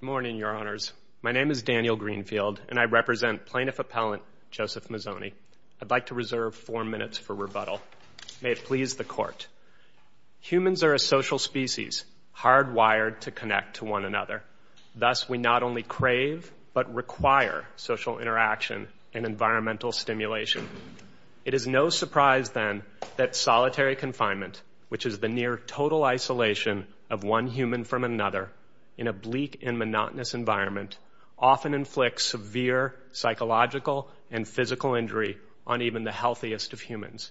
Good morning, Your Honors. My name is Daniel Greenfield, and I represent Plaintiff Appellant Joseph Mizzoni. I'd like to reserve four minutes for rebuttal. May it please the Court. Humans are a social species, hard-wired to connect to one another. Thus, we not only crave but require social interaction and environmental stimulation. It is no surprise, then, that solitary confinement, which is the near-total isolation of one human from another in a bleak and monotonous environment, often inflicts severe psychological and physical injury on even the healthiest of humans.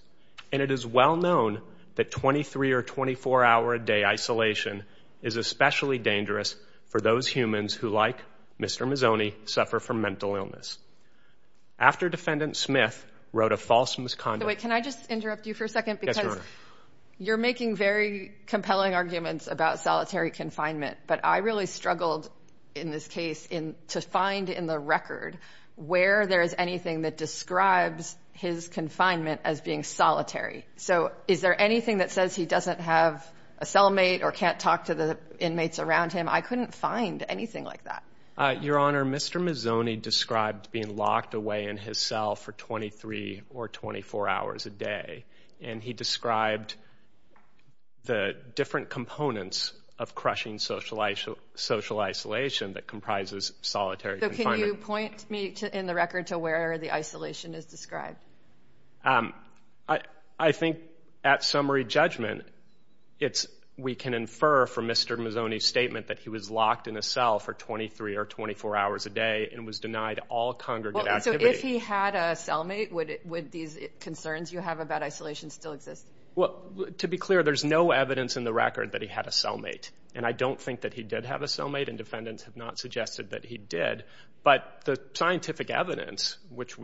And it is well known that 23- or 24-hour-a-day isolation is especially dangerous for those humans who, like Mr. Mizzoni, suffer from mental illness. After Defendant Smith wrote a false misconduct— Wait, can I just interrupt you for a second? Yes, Your Honor. Because you're making very compelling arguments about solitary confinement, but I really struggled, in this case, to find in the record where there is anything that describes his confinement as being solitary. So, is there anything that says he doesn't have a cellmate or can't talk to the inmates around him? I couldn't find anything like that. Your Honor, Mr. Mizzoni described being locked away in his cell for 23 or 24 hours a day, and he described the different components of crushing social isolation that comprises solitary confinement. So, can you point me, in the record, to where the isolation is described? I think, at summary judgment, we can infer from Mr. Mizzoni's statement that he was locked in his cell for 23 or 24 hours a day and was denied all congregate activity. So, if he had a cellmate, would these concerns you have about isolation still exist? Well, to be clear, there's no evidence in the record that he had a cellmate. And I don't think that he did have a cellmate, and defendants have not suggested that he did. But the scientific evidence, which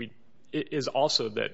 is also that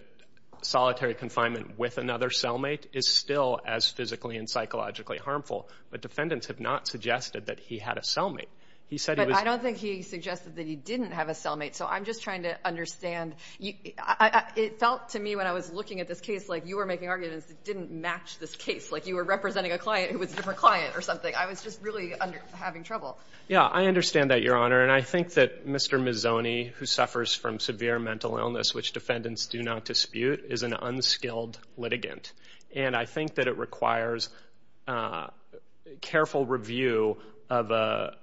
solitary confinement with another cellmate is still as physically and psychologically harmful, but defendants have not suggested that he had a cellmate. He said he was... But I don't think he suggested that he didn't have a cellmate. So, I'm just trying to understand. It felt to me, when I was looking at this evidence, it didn't match this case. Like, you were representing a client who was a different client or something. I was just really having trouble. Yeah, I understand that, Your Honor. And I think that Mr. Mizzoni, who suffers from severe mental illness, which defendants do not dispute, is an unskilled litigant. And I think that it requires careful review of a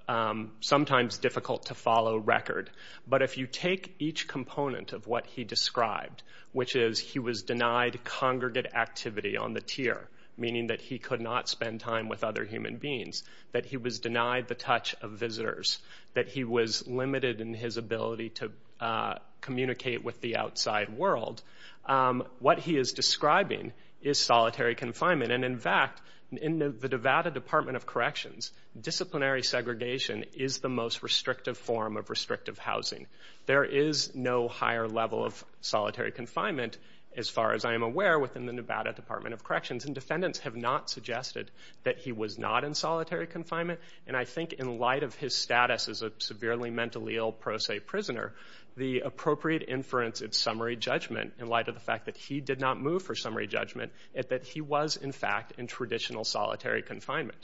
sometimes difficult-to-follow record. But if you take each component of what he described, which is he was denied congregate activity on the tier, meaning that he could not spend time with other human beings, that he was denied the touch of visitors, that he was limited in his ability to communicate with the outside world, what he is describing is solitary confinement. And in fact, in the Nevada Department of Corrections, disciplinary segregation is the most restrictive form of restrictive housing. There is no higher level of solitary confinement, as far as I am aware, within the Nevada Department of Corrections. And defendants have not suggested that he was not in solitary confinement. And I think, in light of his status as a severely mentally ill pro se prisoner, the appropriate inference in summary judgment, in light of the fact that he did not move for summary judgment, is that he was, in fact, in traditional solitary confinement.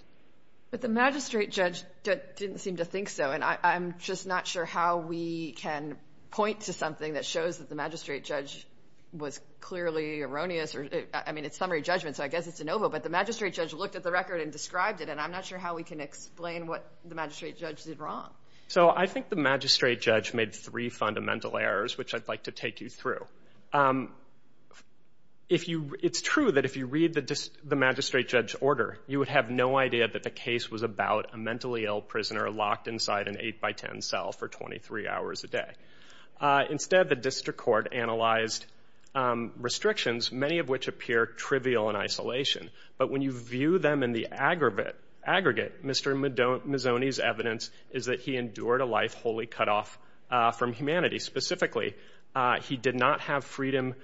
But the magistrate judge didn't seem to think so. And I'm just not sure how we can point to something that shows that the magistrate judge was clearly erroneous. I mean, it's summary judgment, so I guess it's a no-go. But the magistrate judge looked at the record and described it, and I'm not sure how we can explain what the magistrate judge did wrong. So I think the magistrate judge made three fundamental errors, which I'd like to take you through. It's true that if you read the magistrate judge's order, you would have no idea that the case was about a mentally ill prisoner locked inside an eight-by-ten cell for 23 hours a day. Instead, the district court analyzed restrictions, many of which appear trivial in isolation. But when you view them in the aggregate, Mr. Mazzoni's evidence is that he endured a life wholly cut off from humanity. Specifically, he did not have freedom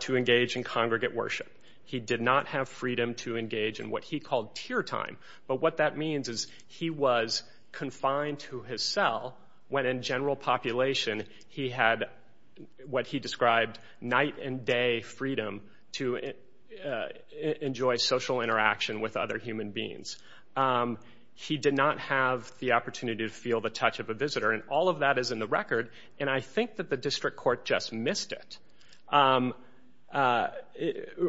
to engage in congregate worship. He did not have freedom to engage in what he called tear time. But what that means is he was confined to his cell when in general population he had what he described night and day freedom to enjoy social interaction with other human beings. He did not have the opportunity to feel the touch of a visitor. And all of that is in the record, and I think that the district court just missed it.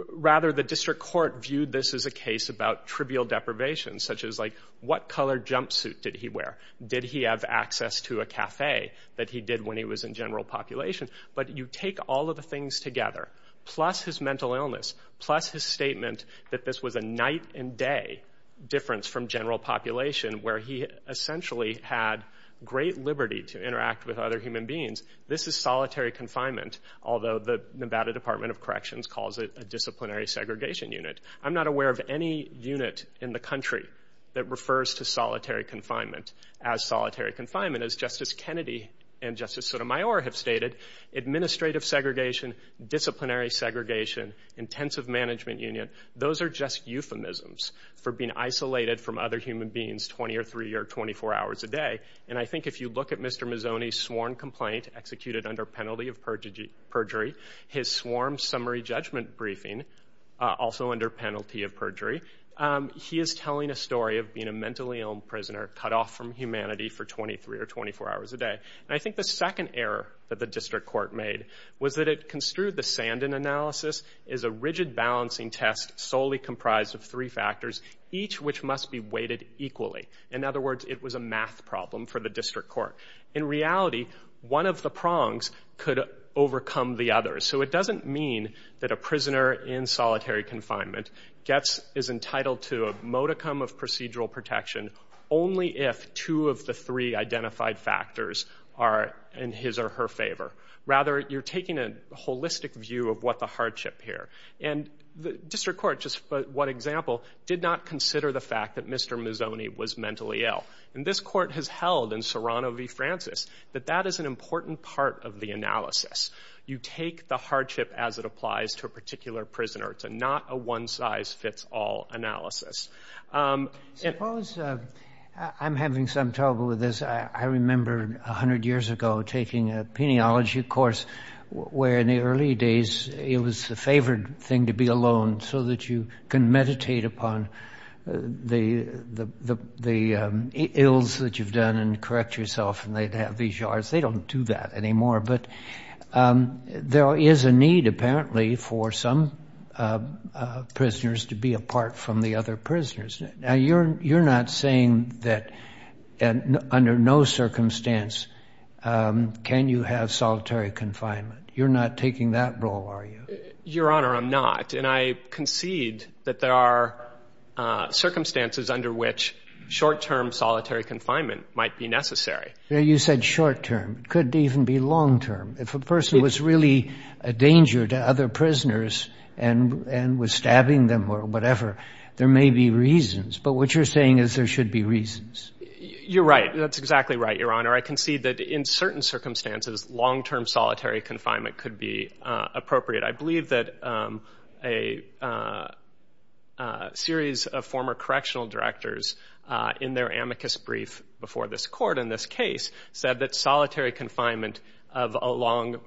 Rather, the district court viewed this as a case about trivial deprivation, such as, like, what color jumpsuit did he wear? Did he have access to a cafe that he did when he was in general population? But you take all of the things together, plus his mental illness, plus his statement that this was a night and day difference from general population where he essentially had great liberty to interact with other human beings. This is solitary confinement, although the Nevada Department of Corrections calls it a disciplinary segregation unit. I'm not aware of any unit in the country that refers to solitary confinement as solitary confinement as Justice Kennedy and Justice Sotomayor have stated. Administrative segregation, disciplinary segregation, intensive management union, those are just euphemisms for being isolated from other human beings 20 or three or 24 hours a day. And I think if you look at Mr. Mazzoni's perjury, his swarm summary judgment briefing, also under penalty of perjury, he is telling a story of being a mentally ill prisoner cut off from humanity for 23 or 24 hours a day. And I think the second error that the district court made was that it construed the Sandin analysis as a rigid balancing test solely comprised of three factors, each which must be weighted equally. In other words, it was a math problem for the district court. In reality, one of the prongs could overcome the other. So it doesn't mean that a prisoner in solitary confinement gets, is entitled to a modicum of procedural protection only if two of the three identified factors are in his or her favor. Rather, you're taking a holistic view of what the hardship here. And the district court, just for one example, did not consider the fact that Mr. Mazzoni was mentally ill. And this court has held in Serrano v. Francis that that is an important part of the analysis. You take the hardship as it applies to a particular prisoner. It's not a one-size-fits-all analysis. Suppose, I'm having some trouble with this. I remember 100 years ago taking a peniology course where in the early days, it was a favored thing to be alone so that you can meditate upon the ills that you've done and correct yourself. And they'd have these yards. They don't do that anymore. But there is a need, apparently, for some prisoners to be apart from the other prisoners. Now, you're not saying that under no circumstance can you have solitary confinement. You're not taking that role, are you? Your Honor, I'm not. And I concede that there are circumstances under which short-term solitary confinement might be necessary. Well, you said short-term. It could even be long-term. If a person was really a danger to other prisoners and was stabbing them or whatever, there may be reasons. But what you're saying is there should be reasons. You're right. That's exactly right, Your Honor. I concede that in certain circumstances, long-term solitary confinement could be appropriate. I believe that a series of former correctional directors in their amicus brief before this Court in this case said that solitary confinement of a long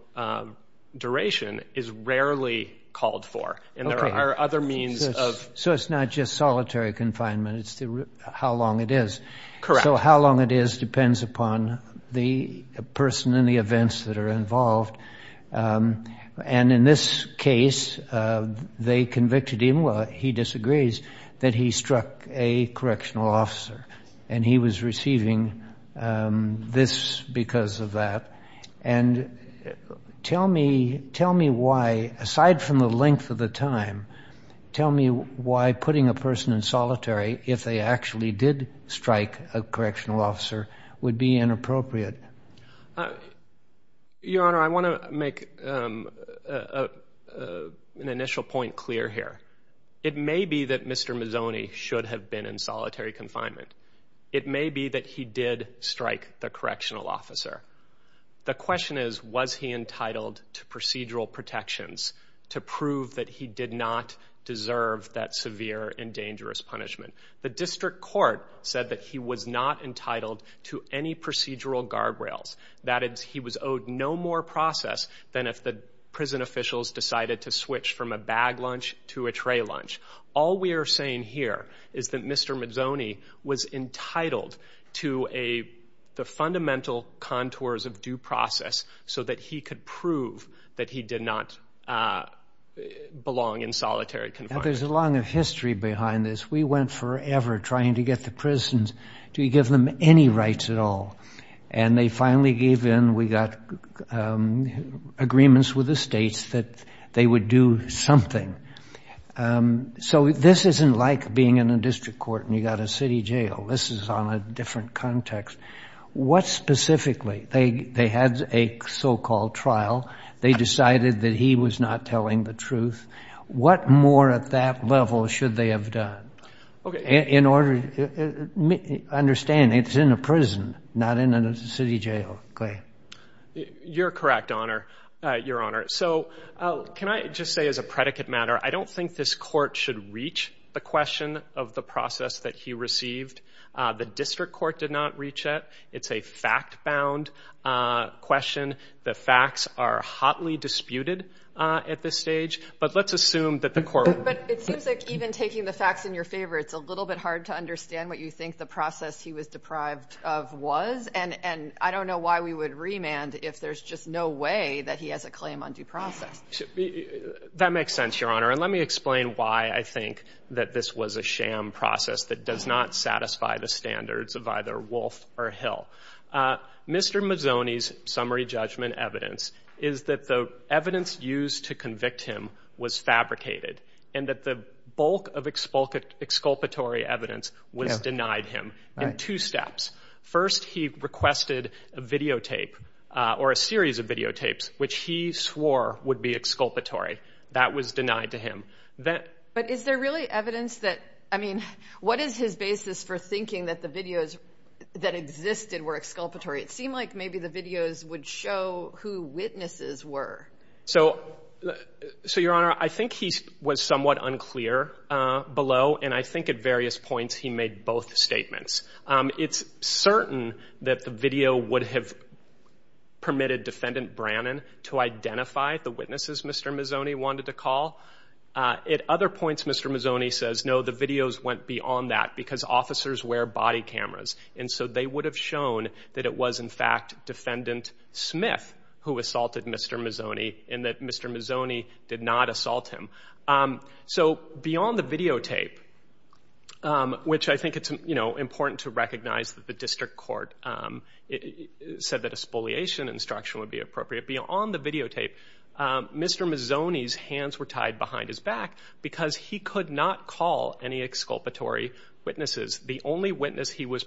duration is rarely called for. And there are other means of... So it's not just solitary confinement. It's how long it is. Correct. So how long it is depends upon the person and the events that are involved. And in this case, they convicted him, he disagrees, that he struck a correctional officer. And he was receiving this because of that. And tell me why, aside from the length of the time, tell me why you think a correctional officer would be inappropriate. Your Honor, I want to make an initial point clear here. It may be that Mr. Mazzoni should have been in solitary confinement. It may be that he did strike the correctional officer. The question is, was he entitled to procedural protections to prove that he did not deserve that severe and dangerous punishment. The District Court said that he was not entitled to any procedural guardrails. That is, he was owed no more process than if the prison officials decided to switch from a bag lunch to a tray lunch. All we are saying here is that Mr. Mazzoni was entitled to the fundamental contours of due process so that he could prove that he did not belong in solitary confinement. There's a long history behind this. We went forever trying to get the prisons to give them any rights at all. And they finally gave in. We got agreements with the states that they would do something. So this isn't like being in a district court and you've got a city jail. This is on a different context. What specifically? They had a so-called trial. They decided that he was not telling the truth. What more at that level should they have done? Understand it's in a prison, not in a city jail. You're correct, Your Honor. So can I just say as a predicate matter, I don't think this court should reach the question of the process that he received. The District Court did not reach the question of the process. I don't know why we would remand if there's just no way that he has a claim on due process. That makes sense, Your Honor. And let me explain why I think that this was a sham process that does not satisfy the standards of either Wolf or Hill. Mr. Mazzoni's summary judgment evidence is that the evidence used to convict him was fabricated and that the bulk of exculpatory evidence was denied him in two steps. First, he requested a videotape or a series of videotapes which he swore would be exculpatory. That was denied to him. But is there really evidence that, I mean, what is his basis for thinking that the videos that existed were exculpatory? It seemed like maybe the videos would show who witnesses were. So, Your Honor, I think he was somewhat unclear below, and I think at various points he made both statements. It's certain that the video would have permitted Defendant Brannon to identify the witnesses Mr. Mazzoni wanted to call. At other points, Mr. Mazzoni says, no, the videos went beyond that because officers wear body cameras. And so they would have shown that it was, in fact, Defendant Smith who assaulted Mr. Mazzoni and that Mr. Mazzoni did not assault him. So beyond the videotape, which I think it's important to recognize that the district court said that a spoliation instruction would be appropriate. Beyond the videotape, Mr. Mazzoni's name was also tied behind his back because he could not call any exculpatory witnesses. The only witness he was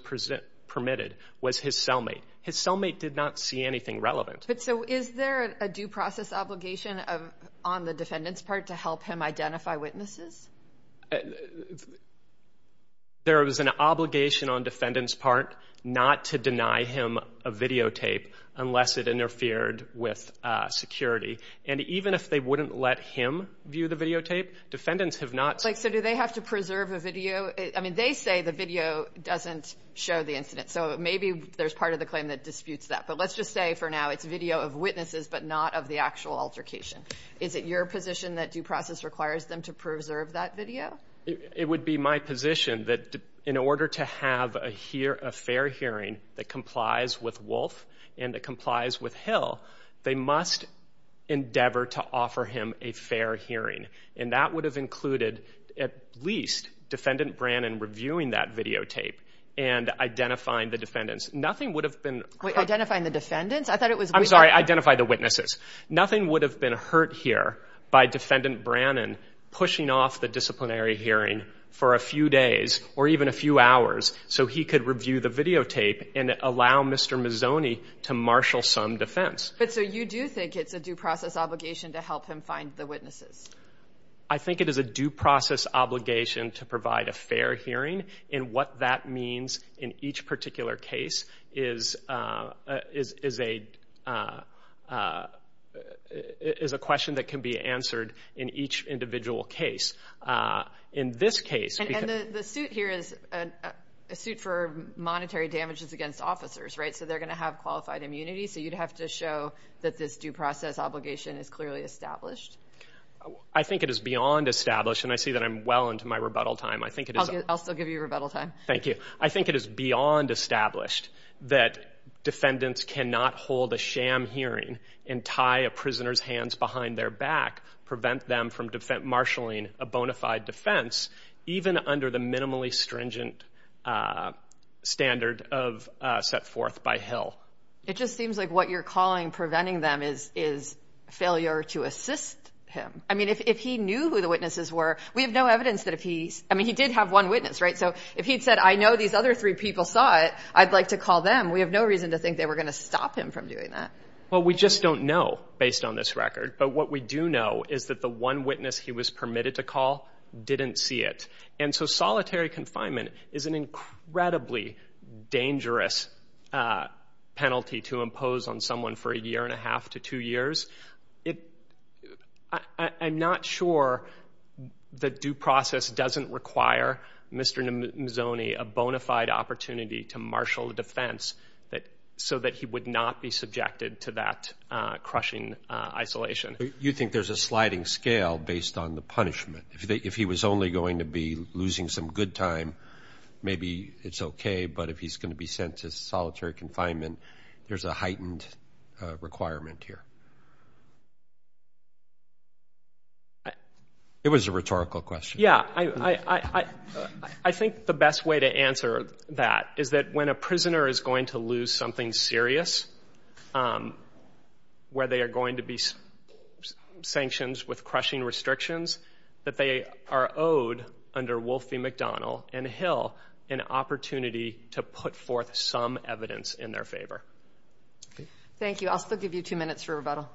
permitted was his cellmate. His cellmate did not see anything relevant. But so is there a due process obligation on the defendant's part to help him identify witnesses? There was an obligation on defendant's part not to deny him a videotape unless it interfered with security. And even if they wouldn't let him view the videotape, defendants have not So do they have to preserve a video? I mean, they say the video doesn't show the incident. So maybe there's part of the claim that disputes that. But let's just say for now it's video of witnesses, but not of the actual altercation. Is it your position that due process requires them to preserve that video? It would be my position that in order to have a fair hearing that complies with Wolf and that complies with Hill, they must endeavor to offer him a fair hearing. And that would have included at least Defendant Brannon reviewing that videotape and identifying the defendants. Nothing would have been Wait, identifying the defendants? I thought it was I'm sorry, identify the witnesses. Nothing would have been hurt here by Defendant Brannon pushing off the disciplinary hearing for a few days or even a few hours so he could review the videotape and allow Mr. Mazzoni to marshal some defense. But so you do think it's a due process obligation to help him find the witnesses? I think it is a due process obligation to provide a fair hearing. And what that means in each particular case is a question that can be answered in each individual case. In this case And the suit here is a suit for monetary damages against officers, right? So they're going to have qualified immunity. So you'd have to show that this due process obligation is clearly established. I think it is beyond established. And I see that I'm well into my rebuttal time. I think it is I'll still give you rebuttal time. Thank you. I think it is beyond established that defendants cannot hold a sham hearing and tie a prisoner's hands behind their back, prevent them from marshaling a bona fide defense even under the minimally stringent standard of set forth by Hill. It just seems like what you're calling preventing them is failure to assist him. I mean, if he knew who the witnesses were, we have no evidence that if he's, I mean, he did have one witness, right? So if he'd said, I know these other three people saw it, I'd like to call them. We have no reason to think they were going to stop him from doing that. Well, we just don't know based on this record. But what we do know is that the one witness he was permitted to call didn't see it. And so solitary confinement is an incredibly dangerous penalty to impose on someone for a year and a half to two years. I'm not sure the due process doesn't require Mr. Mazzoni a bona fide opportunity to marshal a defense so that he would not be subjected to that crushing isolation. You think there's a sliding scale based on the punishment. If he was only going to be losing some good time, maybe it's okay. But if he's going to be sent to solitary confinement, there's a heightened requirement here. It was a rhetorical question. Yeah. I think the best way to answer that is that when a prisoner is going to lose something serious, where there are going to be sanctions with crushing restrictions, that they are owed under Wolfie McDonnell and Hill an opportunity to put forth some evidence in their favor. Thank you. I'll still give you two minutes for rebuttal.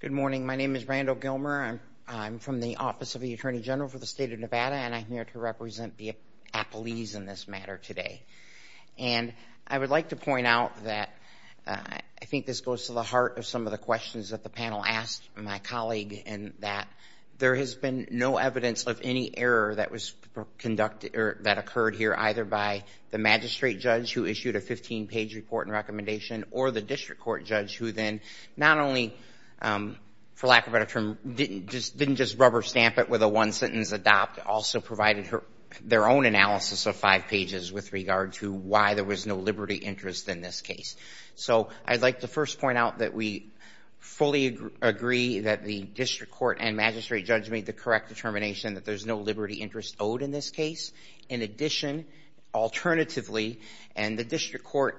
Good morning. My name is Randall Gilmer. I'm from the Office of the Attorney General for the State of Nevada, and I'm here to represent the appellees in this matter today. And I would like to point out that I think this goes to the heart of some of the questions that the panel asked my colleague, and that there has been no evidence of any error that occurred here either by the magistrate judge who issued a 15-page report and recommendation or the district court judge who then not only, for lack of a better term, didn't just rubber stamp it with a one-sentence adopt, also provided their own analysis of five pages with regard to why there was no liberty interest in this case. So I'd like to first point out that we fully agree that the district court and magistrate judge made the correct determination that there's no liberty interest owed in this case. In addition, alternatively, and the district court's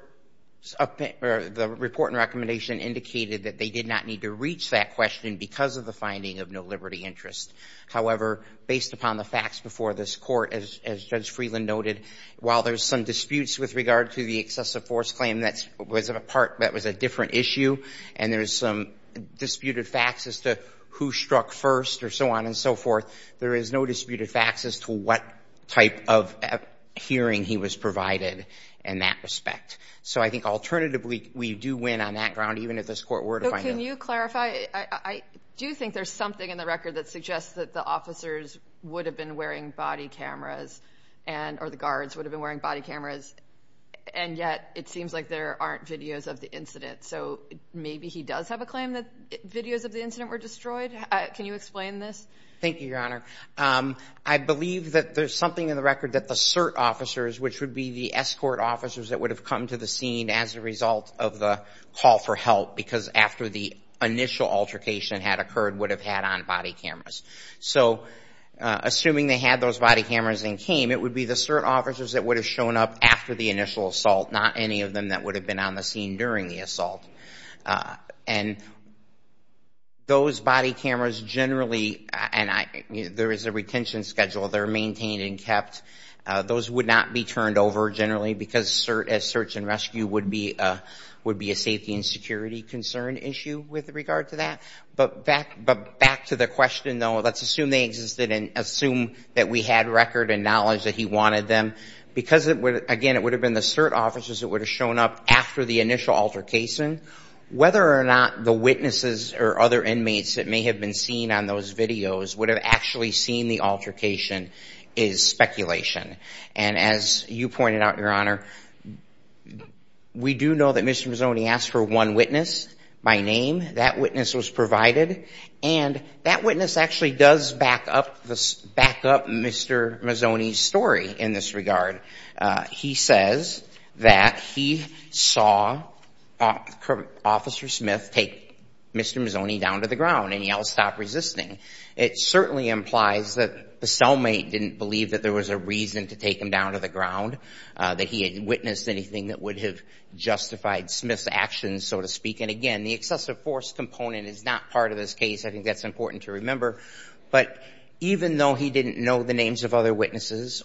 report and recommendation indicated that they did not need to reach that question because of the finding of no liberty interest. However, based upon the facts before this court, as Judge Freeland noted, while there's some disputes with regard to the excessive force claim, that was a different issue, and there's some disputed facts as to who struck first or so on and so forth, there is no disputed facts as to what type of hearing he was provided in that respect. So I think alternatively, we do win on that ground, even if this court were to find it. So can you clarify? I do think there's something in the record that suggests that the officers would have been wearing body cameras, or the guards would have been wearing body cameras, and yet it seems like there aren't videos of the incident. So maybe he does have a claim that videos of the incident were destroyed? Can you explain this? Thank you, Your Honor. I believe that there's something in the record that the cert officers, which would be the escort officers that would have come to the scene as a result of the call for help, because after the initial altercation had occurred, would have had on body cameras. So assuming they had those body cameras and came, it would be the cert officers that would have shown up after the initial assault, not any of them that would have been on the scene during the assault. And those body cameras generally, and there is a retention schedule, they're maintained and kept. Those would not be turned over generally, because a search and rescue would be a safety and security concern issue with regard to that. But back to the question, though, let's assume they existed and assume that we had record and because, again, it would have been the cert officers that would have shown up after the initial altercation, whether or not the witnesses or other inmates that may have been seen on those videos would have actually seen the altercation is speculation. And as you pointed out, Your Honor, we do know that Mr. Mazzoni asked for one witness by name. That witness was provided, and that witness actually does back up Mr. Mazzoni's story in this regard. He says that he saw Officer Smith take Mr. Mazzoni down to the ground and yell, stop resisting. It certainly implies that the cellmate didn't believe that there was a reason to take him down to the ground, that he had witnessed anything that would have justified Smith's actions, so to speak. And again, the excessive force component is not part of this case. I think that's important to remember. But even though he didn't know the names of other inmates,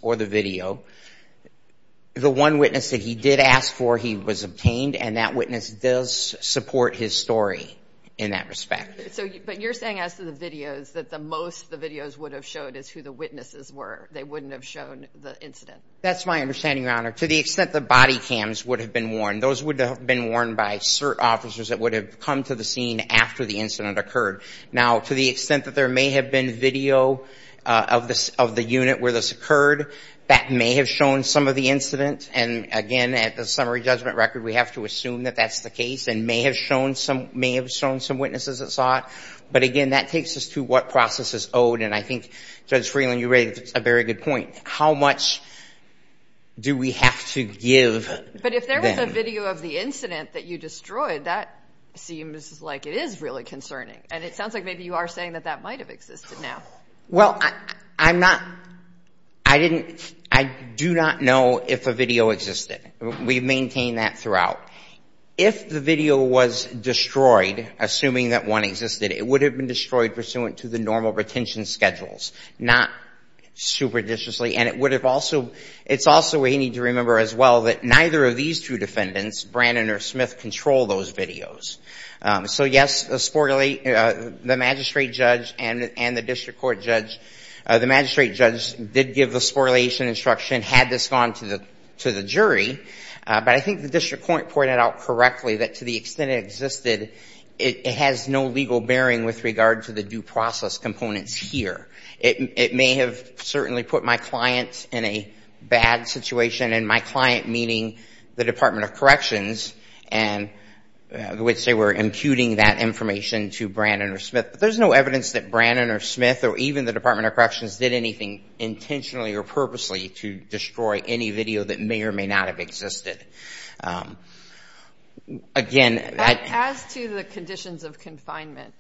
the one witness that he did ask for, he was obtained, and that witness does support his story in that respect. But you're saying as to the videos, that most of the videos would have shown is who the witnesses were. They wouldn't have shown the incident. That's my understanding, Your Honor. To the extent that body cams would have been worn, those would have been worn by cert officers that would have come to the scene after the incident occurred. Now, to the extent that there may have been video of the unit where this occurred, that may have shown some of the incident. And again, at the summary judgment record, we have to assume that that's the case, and may have shown some witnesses that saw it. But again, that takes us to what process is owed. And I think, Judge Freeland, you raised a very good point. How much do we have to give them? But if there was a video of the incident that you destroyed, that seems like it is really concerning. And it sounds like maybe you are saying that that might have existed now. Well, I'm not, I didn't, I do not know if a video existed. We've maintained that throughout. If the video was destroyed, assuming that one existed, it would have been destroyed pursuant to the normal retention schedules, not superdiciously. And it would have also, it's also we need to remember as well that neither of these two defendants, Brandon or The magistrate judge did give the spoliation instruction, had this gone to the jury. But I think the district court pointed out correctly that to the extent it existed, it has no legal bearing with regard to the due process components here. It may have certainly put my client in a bad situation, and my client meaning the Department of Corrections, in which they were imputing that information to Brandon or Smith. But there's no evidence that Brandon or Smith or even the Department of Corrections did anything intentionally or purposely to destroy any video that may or may not have existed. Again... As to the conditions of confinement,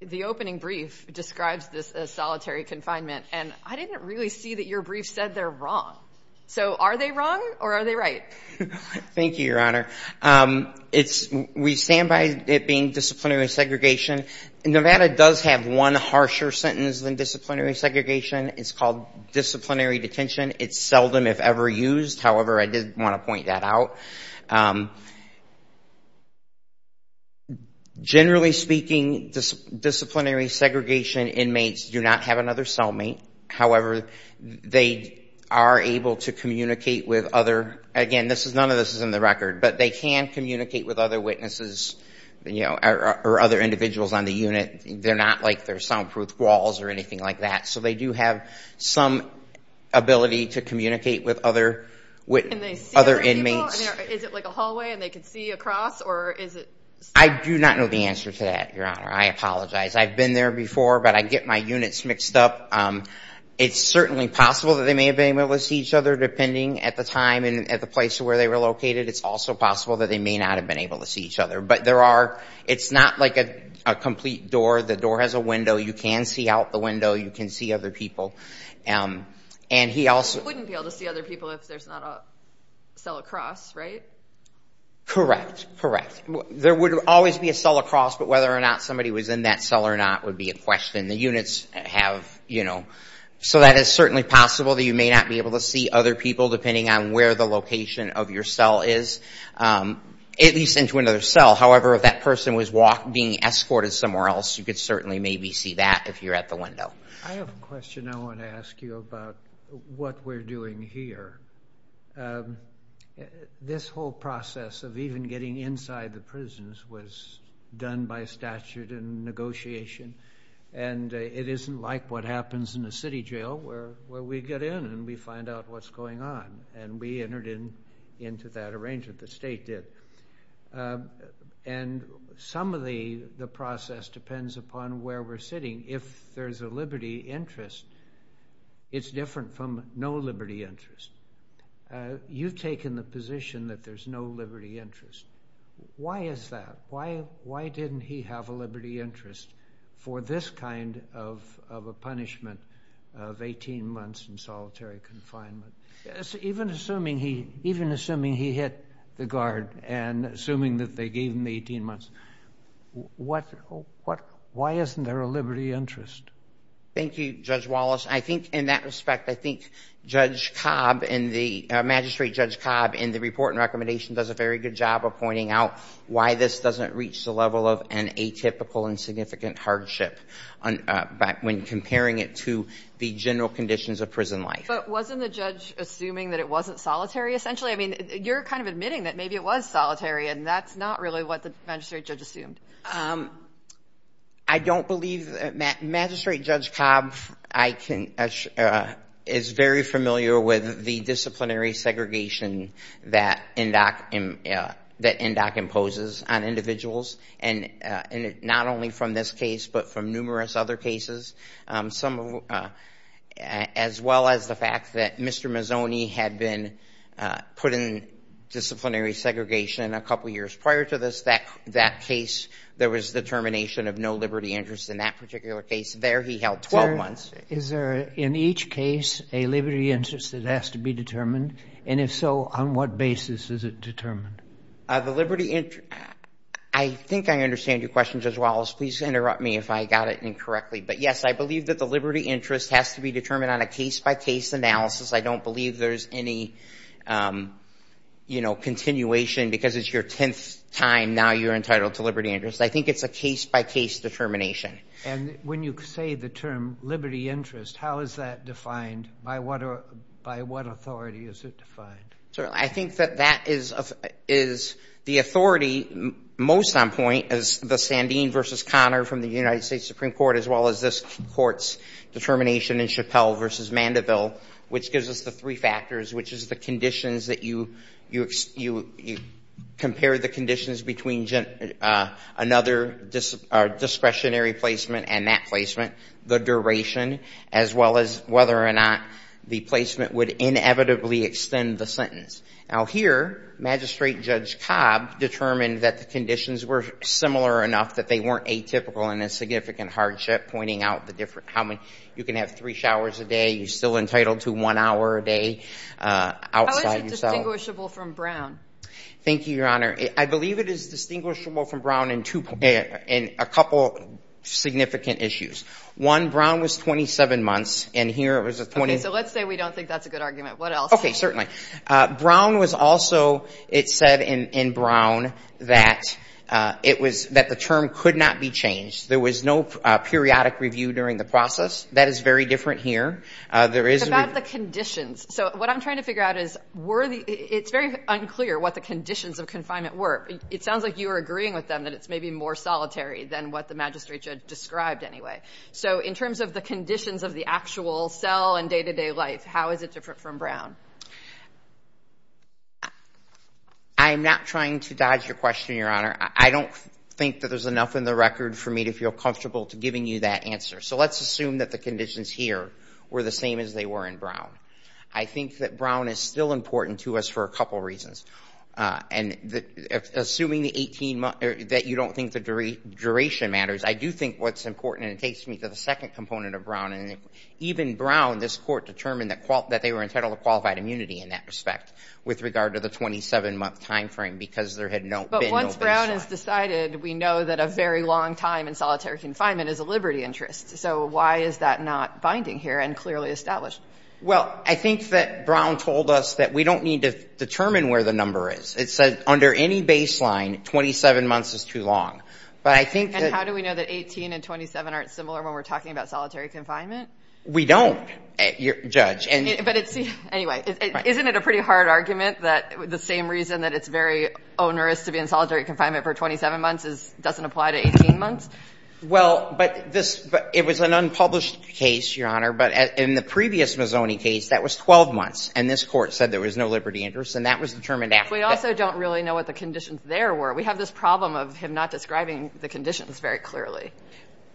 the opening brief describes this as solitary confinement. And I didn't really see that your brief said they're wrong. So are they wrong or are they right? Thank you, Your Honor. We stand by it being disciplinary segregation. Nevada does have one harsher sentence than disciplinary segregation. It's called disciplinary detention. It's seldom if ever used. However, I did want to point that out. Generally speaking, disciplinary segregation inmates do not have another cellmate. However, they are able to communicate with other... Again, none of this is in the record, but they can communicate with other witnesses or other individuals on the unit. They're not like there's soundproof walls or anything like that. So they do have some ability to communicate with other inmates. Can they see other people? Is it like a hallway and they can see across or is it... I do not know the answer to that, Your Honor. I apologize. I've been there before, but I get my units mixed up. It's certainly possible that they may have been able to see each other depending at the time and at the place where they were located. It's also possible that they may not have been able to see each other. But there are... It's not like a complete door. The door has a window. You can see out the window. You can see other people. And he also... He wouldn't be able to see other people if there's not a cell across, right? Correct. Correct. There would always be a cell across, but whether or not somebody was in that cell or not would be a question. The units have, you know... So that is certainly possible that you may not be able to see other people depending on where the location of your cell is, at least into another cell. However, if that person was being escorted somewhere else, you could certainly maybe see that if you're at the window. I have a question I want to ask you about what we're doing here. This whole process of even getting inside the prisons was done by statute and negotiation. And it isn't like what happens in a city jail where we get in and we find out what's going on. And we entered into that arrangement. The state did. And some of the process depends upon where we're sitting. If there's a liberty interest, it's different from no liberty interest. You've taken the position that there's no liberty interest. Why is that? Why didn't he have a liberty interest for this kind of a punishment of 18 months in solitary confinement? Even assuming he hit the guard and assuming that they gave him the 18 months, why isn't there a liberty interest? Thank you, Judge Wallace. I think in that respect, I think Judge Cobb and the... Magistrate Judge Cobb in the report and recommendation does a very good job of pointing out why this doesn't reach the level of an atypical and significant hardship when comparing it to the general conditions of prison life. But wasn't the judge assuming that it wasn't solitary, essentially? I mean, you're kind of admitting that maybe it was solitary. And that's not really what the magistrate judge assumed. I don't believe that Magistrate Judge Cobb is very familiar with the disciplinary imposes on individuals. And not only from this case, but from numerous other cases. As well as the fact that Mr. Mazzoni had been put in disciplinary segregation a couple years prior to this, that case, there was determination of no liberty interest in that particular case. There, he held 12 months. Is there, in each case, a liberty interest that has to be determined? And if so, on what basis is it determined? The liberty interest, I think I understand your question, Judge Wallace. Please interrupt me if I got it incorrectly. But yes, I believe that the liberty interest has to be determined on a case-by-case analysis. I don't believe there's any, you know, continuation because it's your 10th time now you're entitled to liberty interest. I think it's a case-by-case determination. And when you say the term liberty interest, how is that defined? By what authority is it defined? I think that that is the authority, most on point, is the Sandin v. Conner from the United States Supreme Court, as well as this Court's determination in Chappelle v. Mandeville, which gives us the three factors, which is the conditions that you compare the conditions between another discretionary placement and that placement, the duration, as well as whether or not the placement would inevitably extend the sentence. Now here, Magistrate Judge Cobb determined that the conditions were similar enough that they weren't atypical in a significant hardship, pointing out the different, how many, you can have three showers a day, you're still entitled to one hour a day outside yourself. How is it distinguishable from Brown? Thank you, Your Honor. I believe it is distinguishable from Brown in two, in a couple significant issues. One, Brown was 27 months, and here it was a 20. Okay, so let's say we don't think that's a good argument. What else? Okay, certainly. Brown was also, it said in Brown that it was, that the term could not be changed. There was no periodic review during the process. That is very different here. There is a review. What about the conditions? So what I'm trying to figure out is, were the, it's very unclear what the conditions of confinement were. It sounds like you were agreeing with them that it's maybe more solitary than what the magistrate judge described anyway. So in terms of the conditions of the actual cell and day-to-day life, how is it different from Brown? I'm not trying to dodge your question, Your Honor. I don't think that there's enough in the record for me to feel comfortable to giving you that answer. So let's assume that the conditions here were the same as they were in Brown. I think that Brown is still important to us for a couple of reasons. And assuming the 18-month, that you don't think the duration matters, I do think what's important, and it takes me to the second component of Brown, and even Brown, this Court determined that they were entitled to qualified immunity in that respect with regard to the 27-month timeframe because there had been no baseline. But once Brown has decided, we know that a very long time in solitary confinement is a liberty interest. So why is that not binding here and clearly established? Well, I think that Brown told us that we don't need to determine where the number is. It said under any baseline, 27 months is too long. But I think that — And how do we know that 18 and 27 aren't similar when we're talking about solitary confinement? We don't, Judge. And — But it's — anyway, isn't it a pretty hard argument that the same reason that it's very onerous to be in solitary confinement for 27 months is — doesn't apply to 18 months? Well, but this — it was an unpublished case, Your Honor, but in the previous Mazzoni case, that was 12 months. And this Court said there was no liberty interest, and that was determined after — But we also don't really know what the conditions there were. We have this problem of him not describing the conditions very clearly.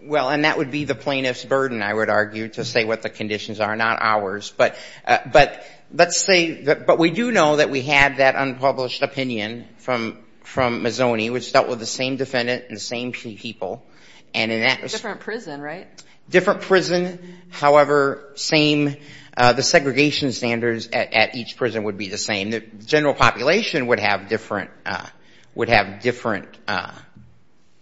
Well, and that would be the plaintiff's burden, I would argue, to say what the conditions are, not ours. But — but let's say — but we do know that we had that unpublished opinion from — from Mazzoni, which dealt with the same defendant and the same people. And in that — Different prison, right? Different prison. However, same — the segregation standards at each prison would be the same. The general population would have different — would have different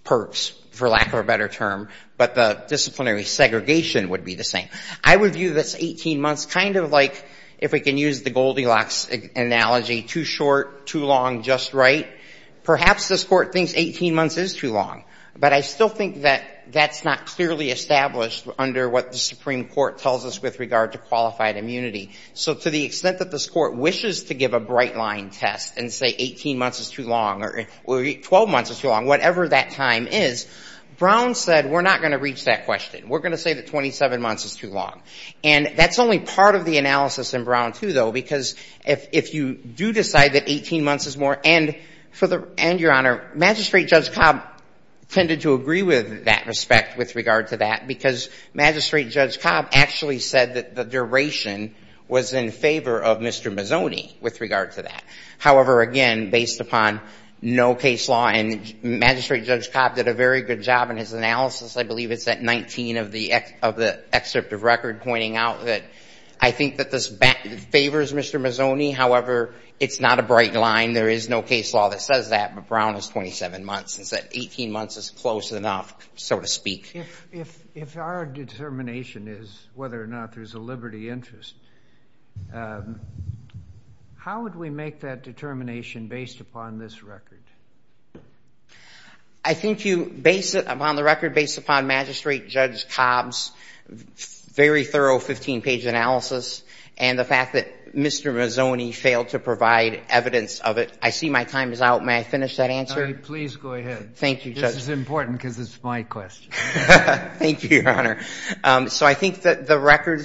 perks, for lack of a better term. But the disciplinary segregation would be the same. I would view this 18 months kind of like, if we can use the Goldilocks analogy, too short, too long, just right. Perhaps this Court thinks 18 months is too long. But I still think that that's not clearly established under what the Supreme Court tells us with regard to qualified immunity. So to the extent that this Court wishes to give a bright-line test and say 18 months is too long or 12 months is too long, whatever that time is, Brown said we're not going to reach that question. We're going to say that 27 months is too long. And that's only part of the analysis in Brown, too, though, because if you do decide that 18 months is more — and for the — and, Your Honor, Magistrate Judge Cobb tended to agree with that respect with regard to that, because Magistrate Judge Cobb actually said that the duration was in favor of Mr. Mazzoni with regard to that. However, again, based upon no case law, and Magistrate Judge Cobb did a very good job in his analysis, I believe it's at 19 of the excerpt of record pointing out that I think that this favors Mr. Mazzoni. However, it's not a bright line. There is no case law that says that, but Brown is 27 months and said 18 months is close enough, so to speak. If our determination is whether or not there's a liberty interest, how would we make that determination based upon this record? I think you — based upon the record, based upon Magistrate Judge Cobb's very thorough 15-page analysis and the fact that Mr. Mazzoni failed to provide evidence of it, I see my time is out. May I finish that answer? Please go ahead. Thank you, Judge. This is important, because it's my question. Thank you, Your Honor. So I think that the record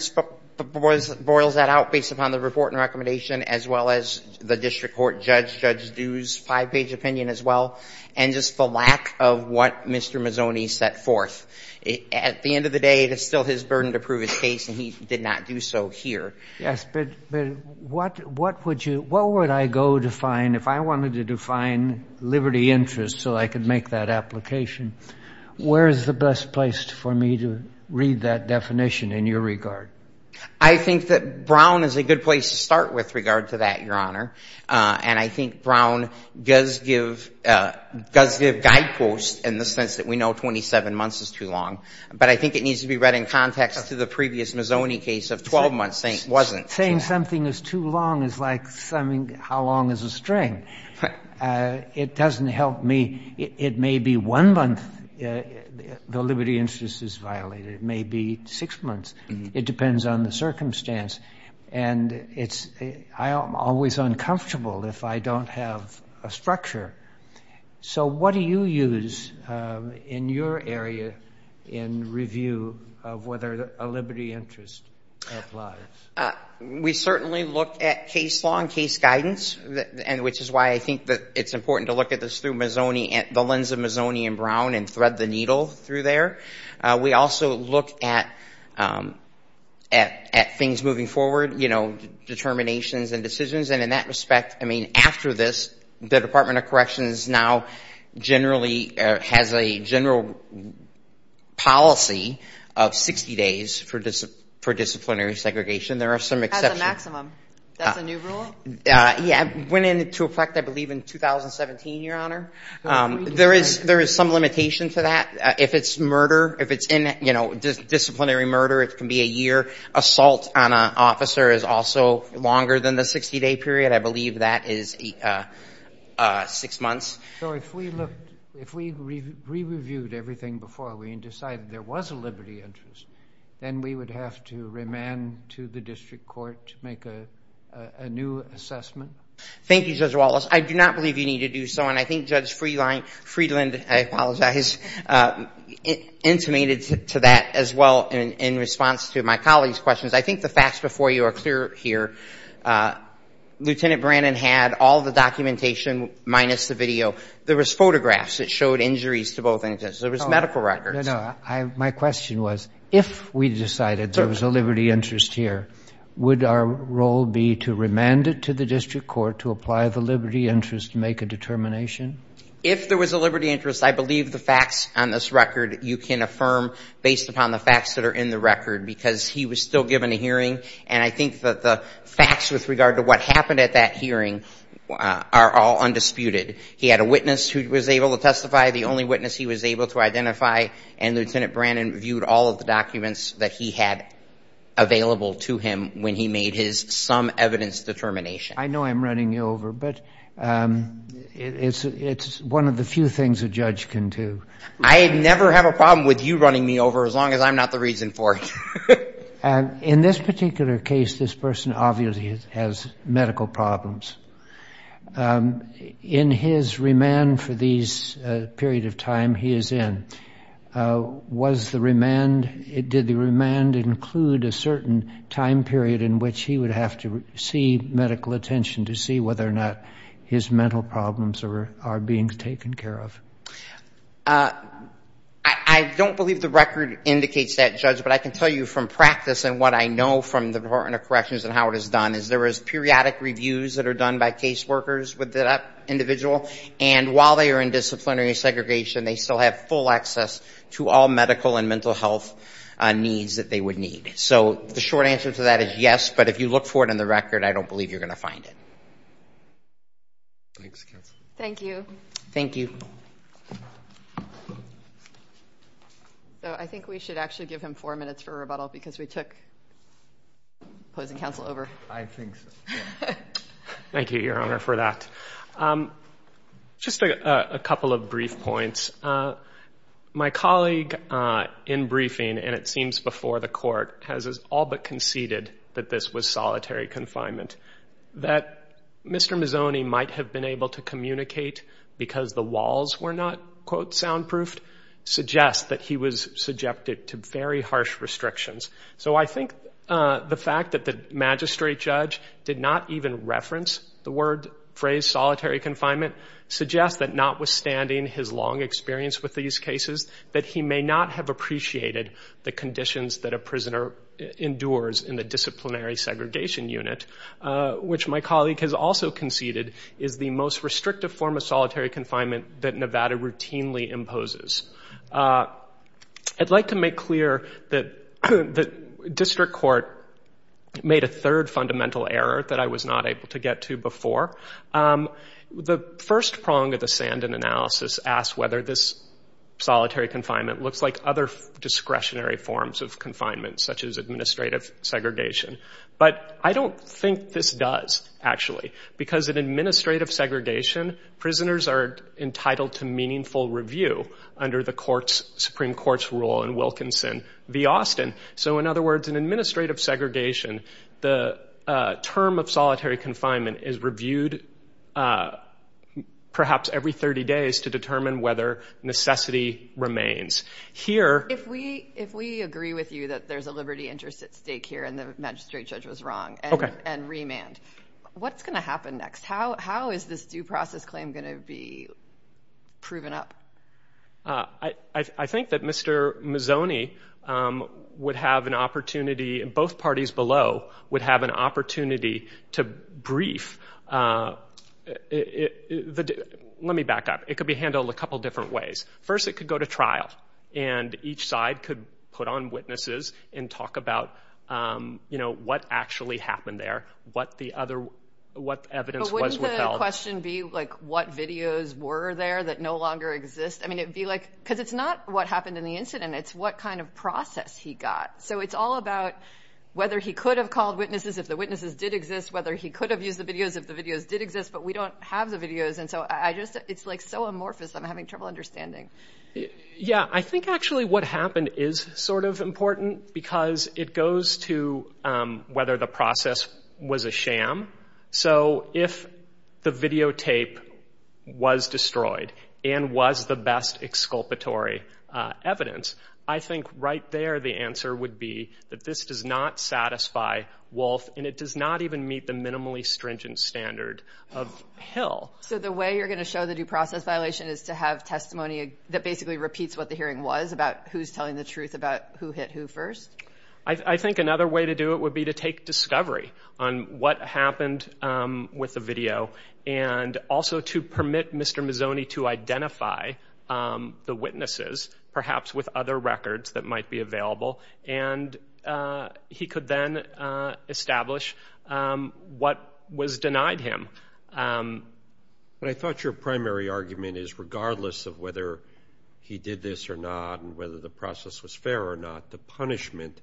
boils that out based upon the report and recommendation, as well as the district court judge, Judge Dew's five-page opinion as well, and just the lack of what Mr. Mazzoni set forth. At the end of the day, it is still his burden to prove his case, and he did not do so here. Yes, but what would you — what would I go to find if I wanted to define liberty interest so I could make that application? Where is the best place for me to read that definition in your regard? I think that Brown is a good place to start with regard to that, Your Honor. And I think Brown does give — does give guideposts in the sense that we know 27 months is too long. But I think it needs to be read in context to the previous Mazzoni case of 12 months saying it wasn't. Saying something is too long is like summing how long is a string. It doesn't help me. It may be one month the liberty interest is violated. It may be six months. It depends on the circumstance. And it's — I'm always uncomfortable if I don't have a structure. So what do you use in your area in review of whether a liberty interest applies? We certainly look at case law and case guidance, and which is why I think that it's important to look at this through Mazzoni — the lens of Mazzoni and Brown and thread the needle through there. We also look at things moving forward, you know, determinations and decisions. And in that respect, I mean, after this, the Department of Corrections now generally has a general policy of 60 days for disciplinary segregation. There are some exceptions. That's a maximum. That's a new rule? Yeah. It went into effect, I believe, in 2017, Your Honor. There is some limitation to that. If it's murder, if it's in — you know, disciplinary murder, it can be a year. Assault on an officer is also longer than the 60-day period. I believe that is six months. So if we looked — if we re-reviewed everything before we decided there was a liberty interest, then we would have to remand to the district court to make a new assessment? Thank you, Judge Wallace. I do not believe you need to do so. And I think Judge Friedland — I apologize — intimated to that as well in response to my colleague's questions. I think the facts before you are clear here. Lieutenant Brannon had all the documentation minus the video. There was photographs that showed injuries to both intentions. There was medical records. No, no. My question was, if we decided there was a liberty interest here, would our role be to remand it to the district court to apply the liberty interest to make a determination? If there was a liberty interest, I believe the facts on this record you can affirm based upon the facts that are in the record, because he was still given a hearing. And I think that the facts with regard to what happened at that hearing are all undisputed. He had a witness who was able to testify, the only witness he was able to identify. And Lieutenant Brannon viewed all of the documents that he had available to him when he made his sum evidence determination. I know I'm running you over, but it's one of the few things a judge can do. I never have a problem with you running me over as long as I'm not the reason for it. In this particular case, this person obviously has medical problems. In his remand for these period of time he is in, was the remand, did the remand include a certain time period in which he would have to receive medical attention to see whether or not his mental problems are being taken care of? I don't believe the record indicates that, Judge, but I can tell you from practice and what I know from the Department of Corrections and how it is done, is there is periodic reviews that are done by caseworkers with that individual. And while they are in disciplinary segregation, they still have full access to all medical and mental health needs that they would need. So the short answer to that is yes, but if you look for it in the record, I don't believe you're going to find it. Thank you. Thank you. So I think we should actually give him four minutes for rebuttal because we took opposing counsel over. I think so. Thank you, Your Honor, for that. Just a couple of brief points. My colleague in briefing, and it seems before the court, has all but conceded that this was solitary confinement, that Mr. Mazzoni might have been able to communicate because the walls were not, quote, soundproofed, suggests that he was subjected to very harsh restrictions. So I think the fact that the magistrate judge did not even reference the phrase solitary confinement suggests that notwithstanding his long experience with these cases, that he may not have appreciated the which my colleague has also conceded is the most restrictive form of solitary confinement that Nevada routinely imposes. I'd like to make clear that district court made a third fundamental error that I was not able to get to before. The first prong of the Sandan analysis asked whether this solitary confinement looks like other discretionary forms of confinement, such as administrative segregation. But I don't think this does, actually, because in administrative segregation, prisoners are entitled to meaningful review under the Supreme Court's rule in Wilkinson v. Austin. So in other words, in administrative segregation, the term of solitary confinement is reviewed perhaps every 30 days to determine whether necessity remains. If we agree with you that there's a liberty interest at stake here and the magistrate judge was wrong and remand, what's going to happen next? How is this due process claim going to be proven up? I think that Mr. Mazzoni would have an opportunity, and both parties below would have an opportunity to brief. Let me back up. It could be handled a couple different ways. First, it could go to trial, and each side could put on witnesses and talk about what actually happened there, what the evidence was withheld. But wouldn't the question be like what videos were there that no longer exist? Because it's not what happened in the incident. It's what kind of process he got. So it's all about whether he could have called witnesses if the witnesses did exist, whether he could have used the videos if the videos did exist, but we don't have the videos. It's so amorphous I'm having trouble understanding. Yeah, I think actually what happened is sort of important because it goes to whether the process was a sham. So if the videotape was destroyed and was the best exculpatory evidence, I think right there the answer would be that this does not satisfy Wolf and it does not even meet the minimally stringent standard of Hill. So the way you're going to show the due process violation is to have testimony that basically repeats what the hearing was about who's telling the truth about who hit who first? I think another way to do it would be to take discovery on what happened with the video and also to permit Mr. Mazzoni to identify the witnesses, perhaps with other records that might be available, and he could then establish what was denied him. But I thought your primary argument is regardless of whether he did this or not and whether the process was fair or not, the punishment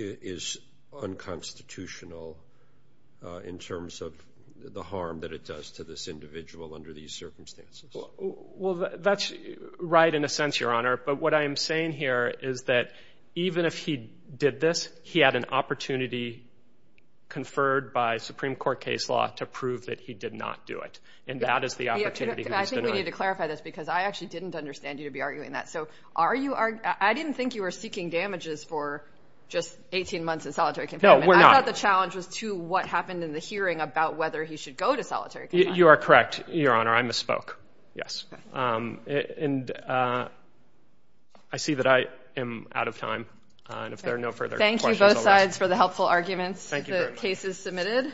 is unconstitutional in terms of the harm that it does to this individual under these circumstances. Well, that's right in a sense, Your Honor. But what I am saying here is that even if he did this, he had an opportunity conferred by Supreme Court case law to prove that he did not do it. And that is the opportunity. I think we need to clarify this because I actually didn't understand you to be arguing that. So are you are I didn't think you were seeking damages for just 18 months in solitary confinement. I thought the challenge was to what happened in the hearing about whether he should go to solitary confinement. You are correct, Your Honor. I misspoke. Yes. And I see that I am out of time. And if there are no further questions. Thank you both sides for the helpful arguments. The case is submitted.